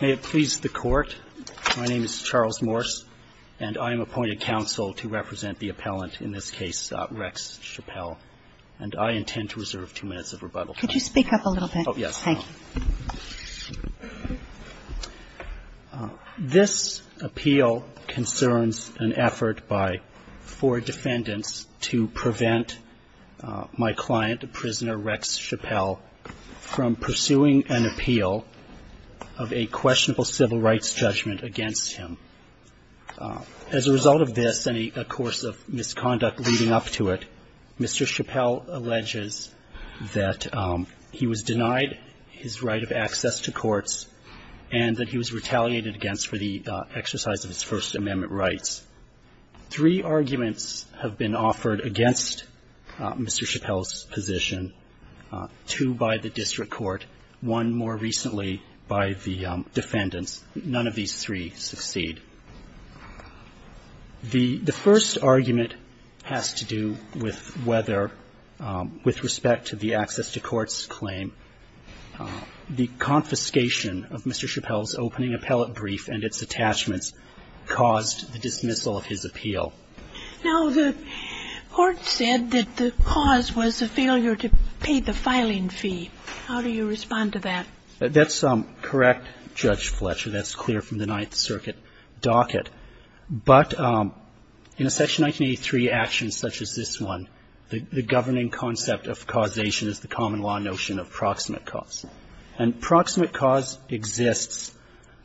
May it please the Court, my name is Charles Morse, and I am appointed counsel to represent the appellant, in this case Rex Chappell, and I intend to reserve two minutes of rebuttal time. Could you speak up a little bit? Oh, yes. Thank you. This appeal concerns an effort by four defendants to prevent my client, prisoner Rex Chappell, from pursuing an appeal of a questionable civil rights judgment against him. As a result of this, and a course of misconduct leading up to it, Mr. Chappell alleges that he was denied his right of access to courts and that he was retaliated against for the exercise of his First Amendment rights. Three arguments have been offered against Mr. Chappell's position, two by the district court, one more recently by the defendants. None of these three succeed. The first argument has to do with whether, with respect to the access to courts claim, the confiscation of Mr. Chappell's opening appellate brief and its attachments caused the dismissal of his appeal. Now, the Court said that the cause was a failure to pay the filing fee. How do you respond to that? That's correct, Judge Fletcher. That's clear from the Ninth Circuit docket. But in a Section 1983 action such as this one, the governing concept of causation is the common law notion of proximate cause. And proximate cause exists,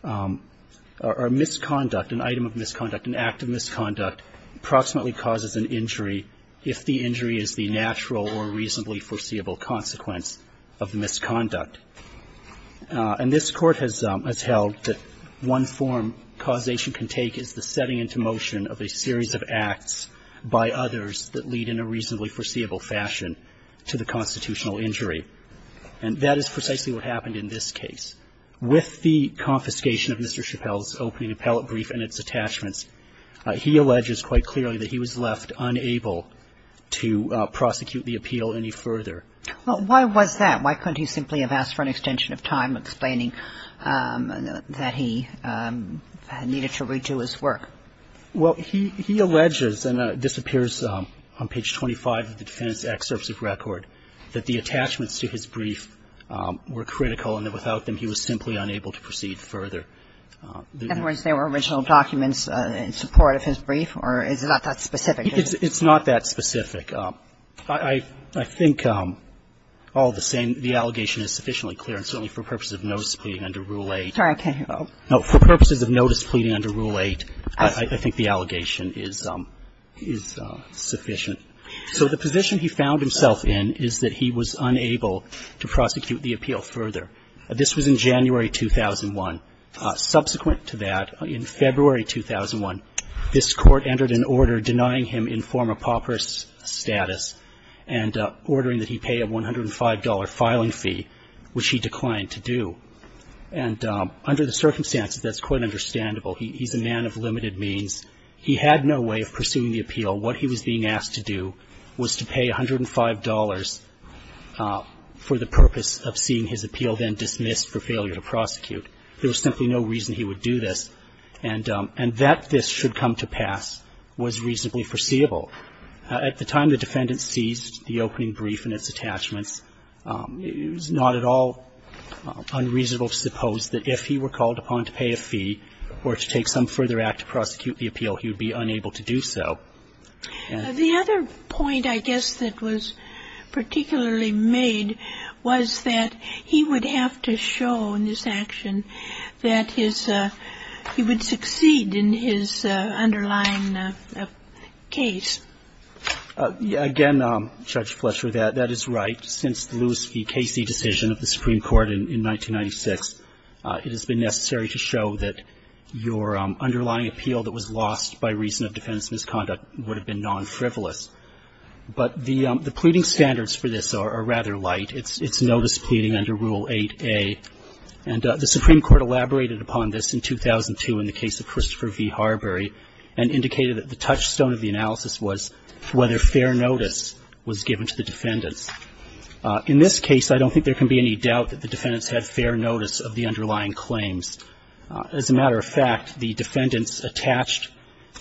or misconduct, an item of misconduct, an act of misconduct proximately causes an injury if the injury is the natural or reasonably foreseeable consequence of the misconduct. And this Court has held that one form causation can take is the setting into motion of a series of acts by others that lead in a reasonably foreseeable fashion to the constitutional injury. And that is precisely what happened in this case. With the confiscation of Mr. Chappell's opening appellate brief and its attachments, he alleges quite clearly that he was left unable to prosecute the appeal any further. Well, why was that? Why couldn't he simply have asked for an extension of time explaining that he needed to redo his work? Well, he alleges, and it disappears on page 25 of the Defendant's Excerpt of Record, that the attachments to his brief were critical and that without them he was simply unable to proceed further. In other words, there were original documents in support of his brief, or is it not that specific? It's not that specific. I think all the same, the allegation is sufficiently clear, and certainly for purposes of notice pleading under Rule 8. Sorry, I can't hear. No, for purposes of notice pleading under Rule 8, I think the allegation is sufficient. So the position he found himself in is that he was unable to prosecute the appeal further. This was in January 2001. Subsequent to that, in February 2001, this court entered an order denying him informer paupers status and ordering that he pay a $105 filing fee, which he declined to do. And under the circumstances, that's quite understandable. He's a man of limited means. He had no way of pursuing the appeal. What he was being asked to do was to pay $105 for the purpose of seeing his appeal then dismissed for failure to prosecute. There was simply no reason he would do this. And that this should come to pass was reasonably foreseeable. At the time the Defendant seized the opening brief and its attachments, it was not at all unreasonable to suppose that if he were called upon to pay a fee or to take some further act to prosecute the appeal, he would be unable to do so. The other point, I guess, that was particularly made was that he would have to show in this action that his he would succeed in his underlying case. Again, Judge Fletcher, that is right. Since the Lewis v. Casey decision of the Supreme Court in 1996, it has been necessary to show that your underlying appeal that was lost by reason of defendant's misconduct would have been non-frivolous. But the pleading standards for this are rather light. It's notice pleading under Rule 8a. And the Supreme Court elaborated upon this in 2002 in the case of Christopher v. Harbury and indicated that the touchstone of the analysis was whether fair notice was given to the defendants. In this case, I don't think there can be any doubt that the defendants had fair notice of the underlying claims. As a matter of fact, the defendants attached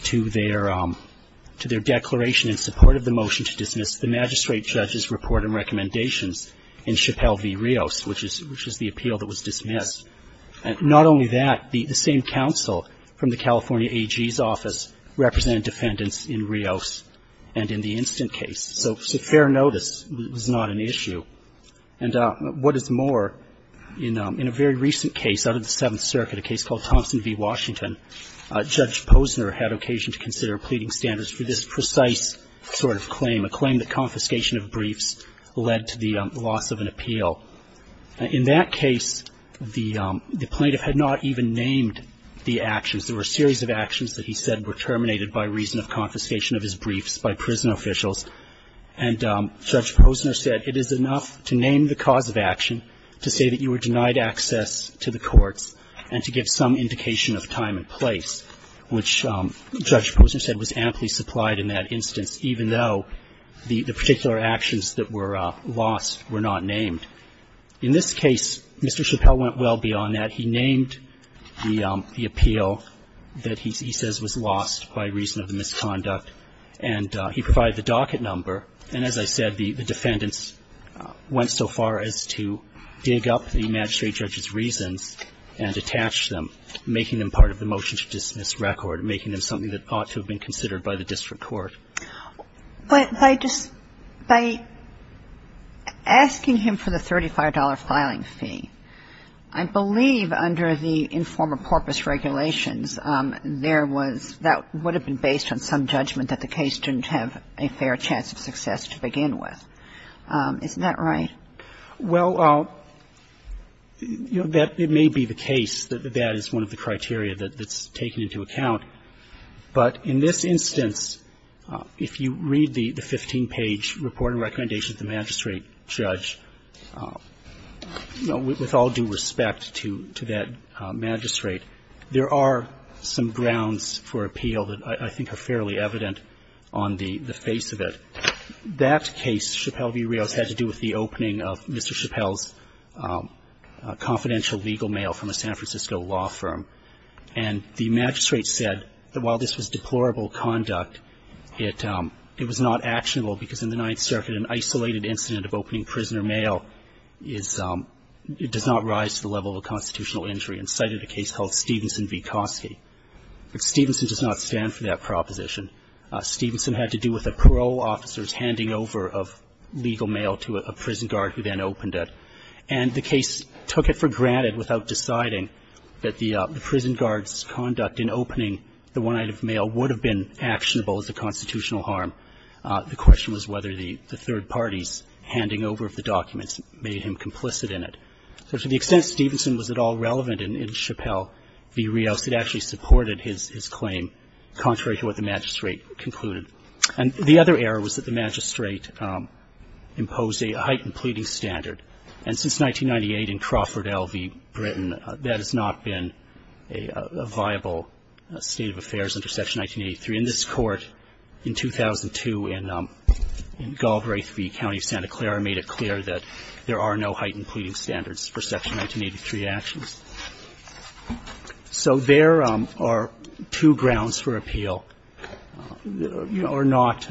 to their declaration in support of the motion to dismiss the magistrate judge's report and recommendations in Chappelle v. Rios, which is the appeal that was dismissed. Not only that, the same counsel from the California AG's office represented defendants in Rios and in the instant case. So fair notice was not an issue. And what is more, in a very recent case out of the Seventh Circuit, a case called Thompson v. Washington, Judge Posner had occasion to consider pleading standards for this precise sort of claim, a claim that confiscation of briefs led to the loss of an appeal. In that case, the plaintiff had not even named the actions. There were a series of actions that he said were terminated by reason of confiscation of his briefs by prison officials. And Judge Posner said it is enough to name the cause of action to say that you were denied access to the courts and to give some indication of time and place, which Judge Posner said was amply supplied in that instance, even though the particular actions that were lost were not named. In this case, Mr. Chappelle went well beyond that. He named the appeal that he says was lost by reason of the misconduct, and he provided the docket number. And as I said, the defendants went so far as to dig up the magistrate judge's reasons and attach them, making them part of the motion to dismiss record, making them something that ought to have been considered by the district court. But by just by asking him for the $35 filing fee, I believe under the informer porpoise regulations, there was that would have been based on some judgment that the case didn't have a fair chance of success to begin with. Isn't that right? Well, you know, that may be the case that that is one of the criteria that's taken into account. But in this instance, if you read the 15-page report and recommendation of the magistrate judge, with all due respect to that magistrate, there are some grounds for appeal that I think are fairly evident on the face of it. That case, Chappelle v. Rios, had to do with the opening of Mr. Chappelle's confidential legal mail from a San Francisco law firm. And the magistrate said that while this was deplorable conduct, it was not actionable because in the Ninth Circuit, an isolated incident of opening prisoner mail does not rise to the level of constitutional injury and cited a case called Stevenson v. Kosky. But Stevenson does not stand for that proposition. Stevenson had to do with the parole officers handing over of legal mail to a prison guard who then opened it. And the case took it for granted without deciding that the prison guard's conduct in opening the one item of mail would have been actionable as a constitutional harm. The question was whether the third party's handing over of the documents made him complicit in it. So to the extent Stevenson was at all relevant in Chappelle v. Rios, it actually supported his claim, contrary to what the magistrate concluded. And the other error was that the magistrate imposed a heightened pleading standard. And since 1998 in Crawford, L.V., Britain, that has not been a viable state of affairs under Section 1983. And this Court in 2002 in Galbraith v. County of Santa Clara made it clear that there are no heightened pleading standards for Section 1983 actions. So there are two grounds for appeal that are not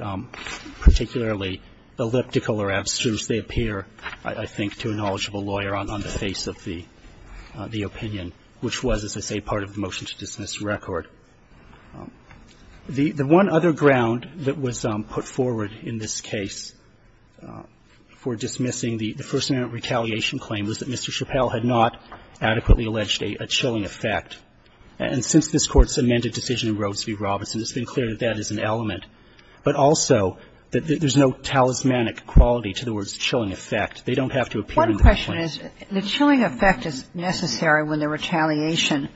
particularly elliptical or abstruse. They appear, I think, to a knowledgeable lawyer on the face of the opinion, which was, as I say, part of the motion to dismiss the record. The one other ground that was put forward in this case for dismissing the First Amendment retaliation claim was that Mr. Chappelle had not adequately alleged a chilling effect. And since this Court's amended decision in Rodes v. Robinson, it's been clear that that is an element. But also that there's no talismanic quality to the word chilling effect. They don't have to appear in the complaint. Kagan. One question is the chilling effect is necessary when the retaliation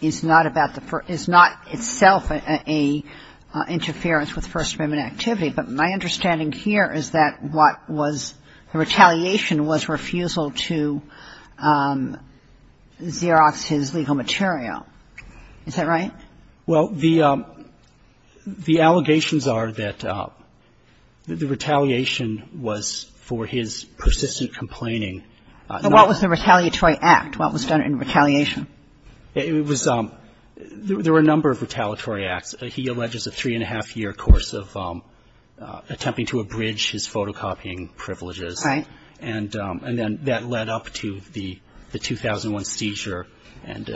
is not about the First – is not itself an interference with First Amendment activity. But my understanding here is that what was the retaliation was refusal to Xerox's legal material. Is that right? Well, the allegations are that the retaliation was for his persistent complaining. But what was the retaliatory act? What was done in retaliation? It was – there were a number of retaliatory acts. He alleges a three-and-a-half-year course of attempting to abridge his photocopying privileges. Right. And then that led up to the 2001 seizure and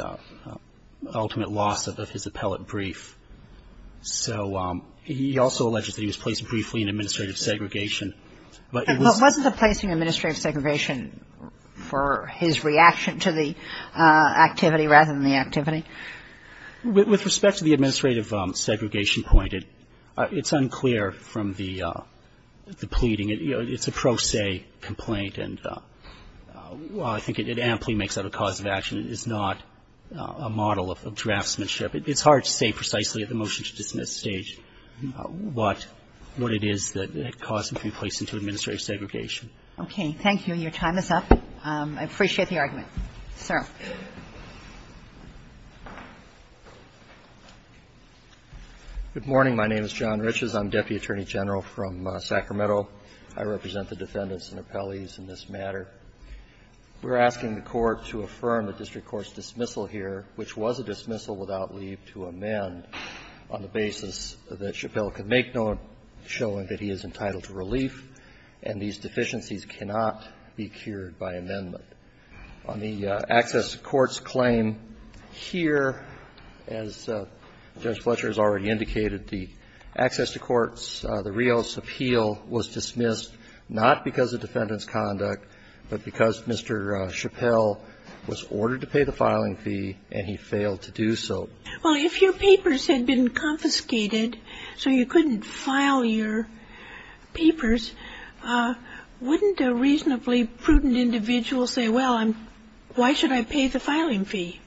ultimate loss of his appellate brief. So he also alleges that he was placed briefly in administrative segregation. But it was – But wasn't the place in administrative segregation for his reaction to the activity rather than the activity? With respect to the administrative segregation point, it's unclear from the pleading. It's a pro se complaint. And while I think it amply makes it a cause of action, it is not a model of draftsmanship. It's hard to say precisely at the motion-to-dismiss stage what – what it is that caused him to be placed into administrative segregation. Okay. Thank you. Your time is up. I appreciate the argument. Sir. Good morning. My name is John Riches. I'm Deputy Attorney General from Sacramento. I represent the defendants and appellees in this matter. We're asking the Court to affirm the district court's dismissal here, which was a dismissal without leave to amend on the basis that Chappelle could make no showing that he is entitled to relief, and these deficiencies cannot be cured by amendment. On the access to courts claim here, as Judge Fletcher has already indicated, the access to courts, the Rios appeal, was dismissed not because of defendant's conduct, but because Mr. Chappelle was ordered to pay the filing fee and he failed to do so. Well, if your papers had been confiscated so you couldn't file your papers, wouldn't a reasonably prudent individual say, well, I'm – why should I pay the filing fee?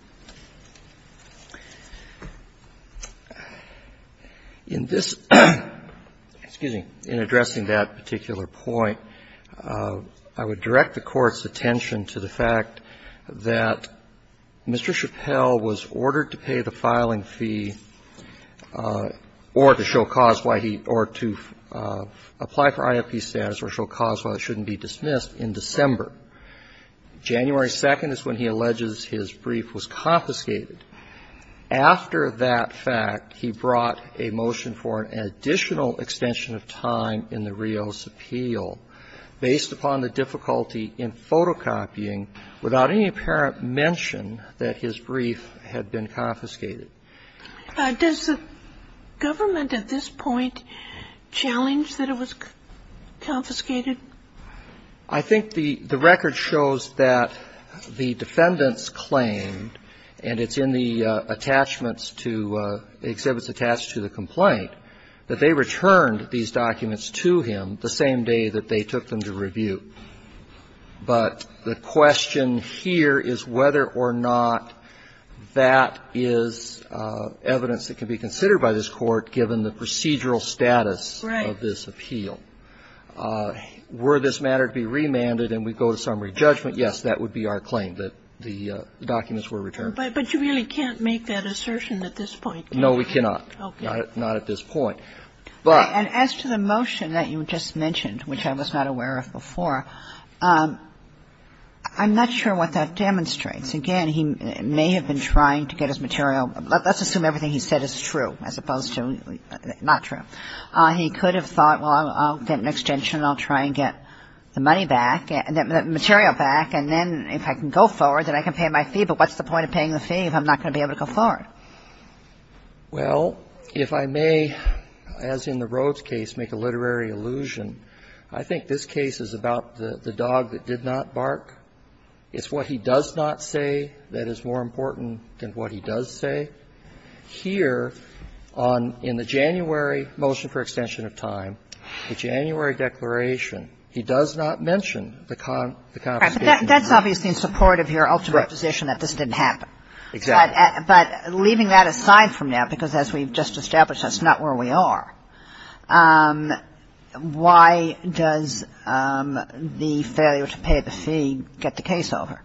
In this – excuse me – in addressing that particular point, I would direct the Court's attention to the fact that Mr. Chappelle was ordered to pay the filing fee or to show cause why he – or to apply for IFP status or show cause why it shouldn't be dismissed in December. January 2nd is when he alleges his brief was confiscated. After that fact, he brought a motion for an additional extension of time in the Rios appeal based upon the difficulty in photocopying without any apparent mention that his brief had been confiscated. Does the government at this point challenge that it was confiscated? I think the record shows that the defendants claimed, and it's in the attachments to – the exhibits attached to the complaint, that they returned these documents to him the same day that they took them to review. But the question here is whether or not that is evidence that can be considered by this Court given the procedural status of this appeal. Right. And if that's the case, then, were this matter to be remanded and we go to summary judgment, yes, that would be our claim, that the documents were returned. But you really can't make that assertion at this point. No, we cannot. Okay. Not at this point. But as to the motion that you just mentioned, which I was not aware of before, I'm not sure what that demonstrates. Again, he may have been trying to get his material – let's assume everything he said is true, as opposed to not true. He could have thought, well, I'll get an extension and I'll try and get the money back, the material back, and then if I can go forward, then I can pay my fee. But what's the point of paying the fee if I'm not going to be able to go forward? Well, if I may, as in the Rhodes case, make a literary allusion, I think this case is about the dog that did not bark. It's what he does not say that is more important than what he does say. Here, on – in the January motion for extension of time, the January declaration, he does not mention the confiscation of the dog. Right. But that's obviously in support of your ultimate position that this didn't happen. Exactly. But leaving that aside for now, because as we've just established, that's not where we are. Why does the failure to pay the fee get the case over?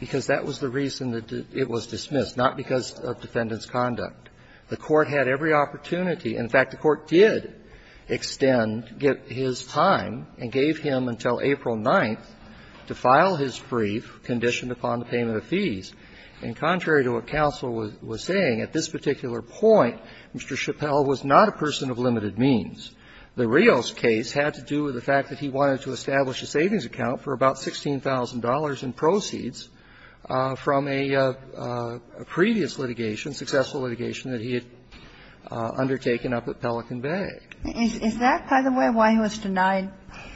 Because that was the reason that it was dismissed, not because of defendant's conduct. The Court had every opportunity – in fact, the Court did extend his time and gave him until April 9th to file his brief conditioned upon the payment of fees. And contrary to what counsel was saying, at this particular point, Mr. Chappell was not a person of limited means. The Rios case had to do with the fact that he wanted to establish a savings account for about $16,000 in proceeds from a previous litigation, successful litigation that he had undertaken up at Pelican Bay. Is that, by the way, why he was denied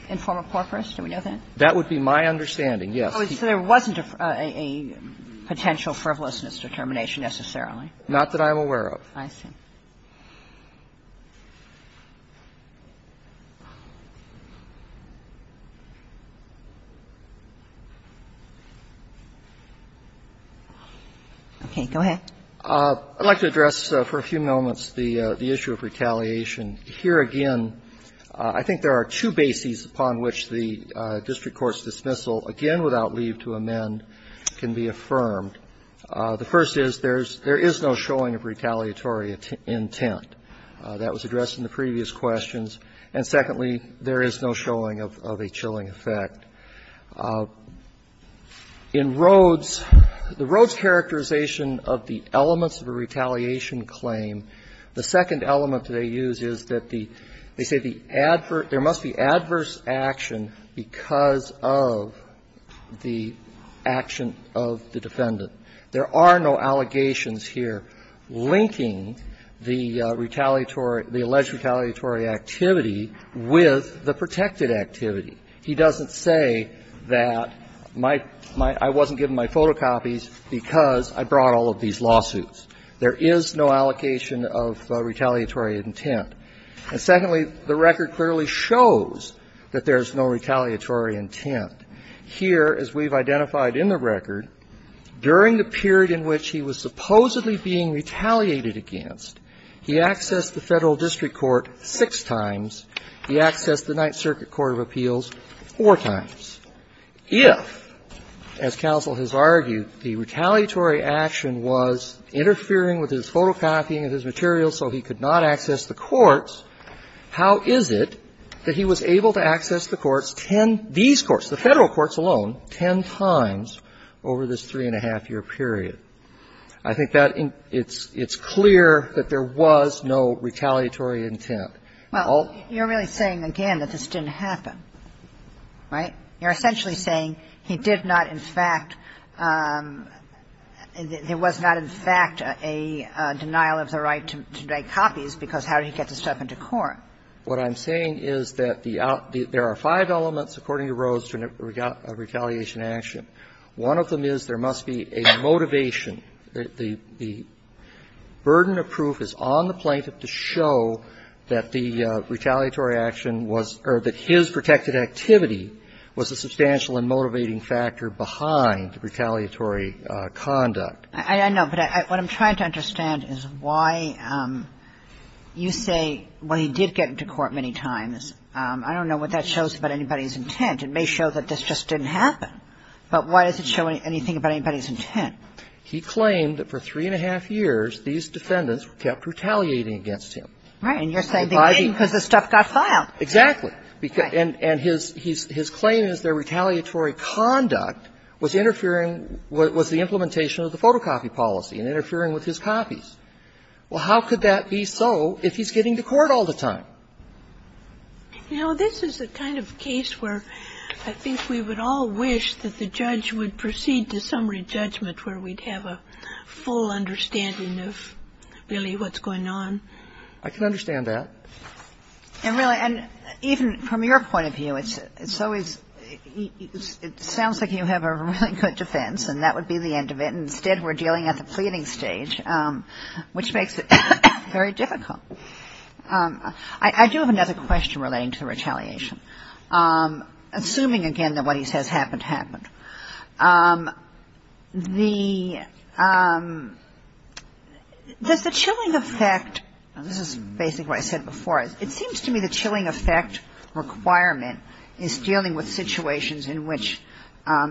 informal corporate? Do we know that? That would be my understanding, yes. So there wasn't a potential frivolousness determination necessarily? Not that I'm aware of. I see. Okay. Go ahead. I'd like to address for a few moments the issue of retaliation. Here again, I think there are two bases upon which the district court's dismissal, again without leave to amend, can be affirmed. The first is there's – there is no showing of retaliatory intent. That was addressed in the previous questions. And secondly, there is no showing of a chilling effect. In Rhoades, the Rhoades characterization of the elements of a retaliation claim, the second element they use is that the – they say the adverse – there is no showing of retaliation because of the action of the defendant. There are no allegations here linking the retaliatory – the alleged retaliatory activity with the protected activity. He doesn't say that my – I wasn't given my photocopies because I brought all of these lawsuits. There is no allocation of retaliatory intent. And secondly, the record clearly shows that there is no retaliatory intent. Here, as we've identified in the record, during the period in which he was supposedly being retaliated against, he accessed the Federal district court six times, he accessed the Ninth Circuit Court of Appeals four times. If, as counsel has argued, the retaliatory action was interfering with his photocopying of his materials so he could not access the courts, how is it that he was able to access the courts, these courts, the Federal courts alone, ten times over this three-and-a-half-year period? I think that it's clear that there was no retaliatory intent. All of them. Kagan. You're really saying, again, that this didn't happen, right? You're essentially saying he did not, in fact – there was not, in fact, a denial of the right to make copies, because how did he get this stuff into court? What I'm saying is that the – there are five elements, according to Rose, to a retaliation action. One of them is there must be a motivation. The burden of proof is on the plaintiff to show that the retaliatory action was – or that his protected activity was a substantial and motivating factor behind retaliatory conduct. I know. But what I'm trying to understand is why you say, well, he did get into court many times. I don't know what that shows about anybody's intent. It may show that this just didn't happen. But why does it show anything about anybody's intent? He claimed that for three-and-a-half years, these defendants kept retaliating against him. Right. And you're saying they didn't because the stuff got filed. Exactly. And his claim is their retaliatory conduct was interfering with the implementation of the photocopy policy and interfering with his copies. Well, how could that be so if he's getting to court all the time? You know, this is the kind of case where I think we would all wish that the judge would proceed to summary judgment where we'd have a full understanding of really what's going on. I can understand that. And really – and even from your point of view, it's always – it sounds like you have a really good defense, and that would be the end of it. And instead, we're dealing at the pleading stage, which makes it very difficult. I do have another question relating to retaliation. Assuming, again, that what he says happened happened, the – does the chilling effect – this is basically what I said before. It seems to me the chilling effect requirement is dealing with situations in which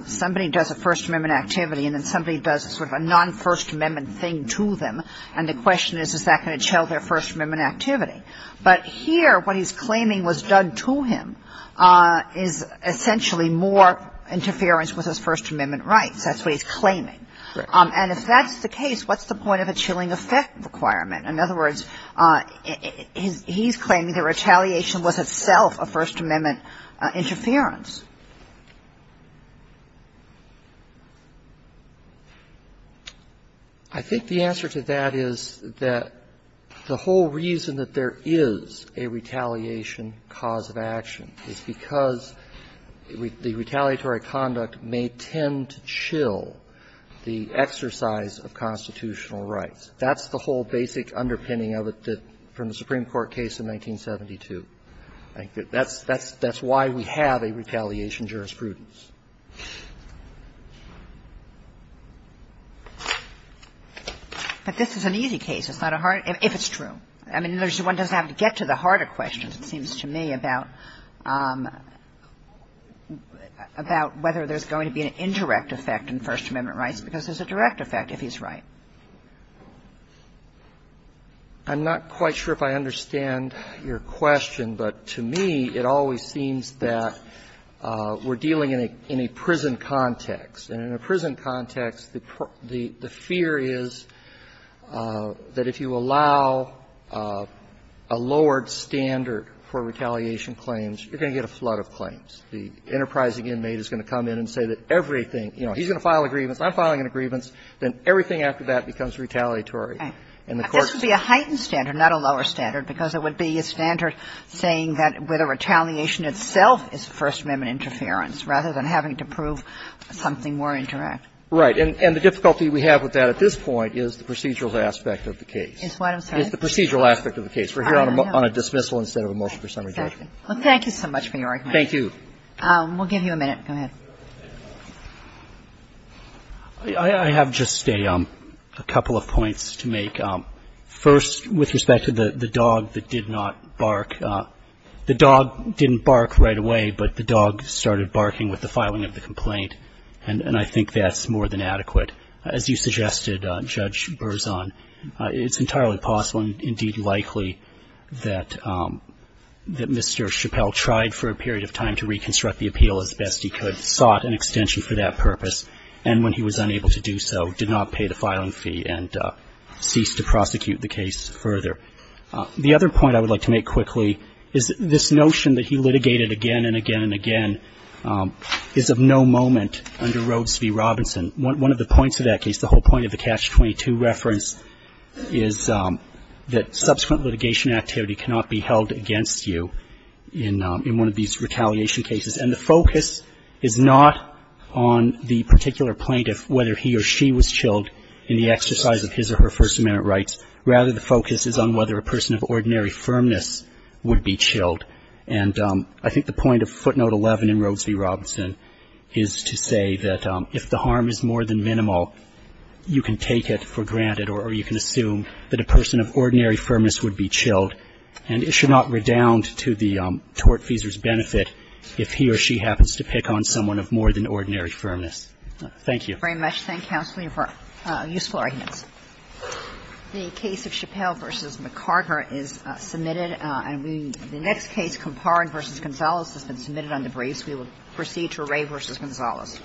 somebody does a First Amendment activity and then somebody does sort of a non-First Amendment thing to them, and the question is, is that going to chill their First Amendment activity? But here, what he's claiming was done to him is essentially more interference with his First Amendment rights. That's what he's claiming. And if that's the case, what's the point of a chilling effect requirement? In other words, he's claiming the retaliation was itself a First Amendment interference. I think the answer to that is that the whole reason that there is a retaliation cause of action is because the retaliatory conduct may tend to chill the exercise of constitutional rights. That's the whole basic underpinning of it that – from the Supreme Court case in 1972. I think that's why we have a retaliation jurisprudence. But this is an easy case, it's not a hard – if it's true. I mean, one doesn't have to get to the harder questions, it seems to me, about whether there's going to be an indirect effect in First Amendment rights, because there's a direct effect if he's right. I'm not quite sure if I understand your question, but to me, it always seems that we're dealing in a prison context. And in a prison context, the fear is that if you allow a lowered standard for retaliation claims, you're going to get a flood of claims. The enterprising inmate is going to come in and say that everything – you know, he's going to file a grievance, I'm filing a grievance, then everything after that becomes retaliatory. And the Court's – This would be a heightened standard, not a lower standard, because it would be a standard saying that whether retaliation itself is First Amendment interference, rather than having to prove something more indirect. Right. And the difficulty we have with that at this point is the procedural aspect of the case. It's what, I'm sorry? It's the procedural aspect of the case. We're here on a dismissal instead of a motion for summary judgment. Well, thank you so much for your argument. Thank you. We'll give you a minute. Go ahead. I have just a couple of points to make. First, with respect to the dog that did not bark, the dog didn't bark right away, but the dog started barking with the filing of the complaint. And I think that's more than adequate. As you suggested, Judge Berzon, it's entirely possible and indeed likely that Mr. Chappelle tried for a period of time to reconstruct the appeal as best he could, sought an extension for that purpose, and when he was unable to do so, did not pay the filing fee and ceased to prosecute the case further. The other point I would like to make quickly is this notion that he litigated again and again and again is of no moment under Rhodes v. Robinson. One of the points of that case, the whole point of the Catch-22 reference, is that subsequent litigation activity cannot be held against you in one of these retaliation cases, and the focus is not on the particular plaintiff, whether he or she was chilled in the exercise of his or her First Amendment rights. Rather the focus is on whether a person of ordinary firmness would be chilled. And I think the point of footnote 11 in Rhodes v. Robinson is to say that if the harm is more than minimal, you can take it for granted or you can assume that a person of ordinary firmness would be chilled, and it should not redound to the tortfeasor's benefit if he or she happens to pick on someone of more than ordinary firmness. Thank you. Very much. Thank you, counsel, for your useful arguments. The case of Chappelle v. McCarter is submitted. The next case, Comparin v. Gonzales, has been submitted on debris, so we will proceed to Ray v. Gonzales.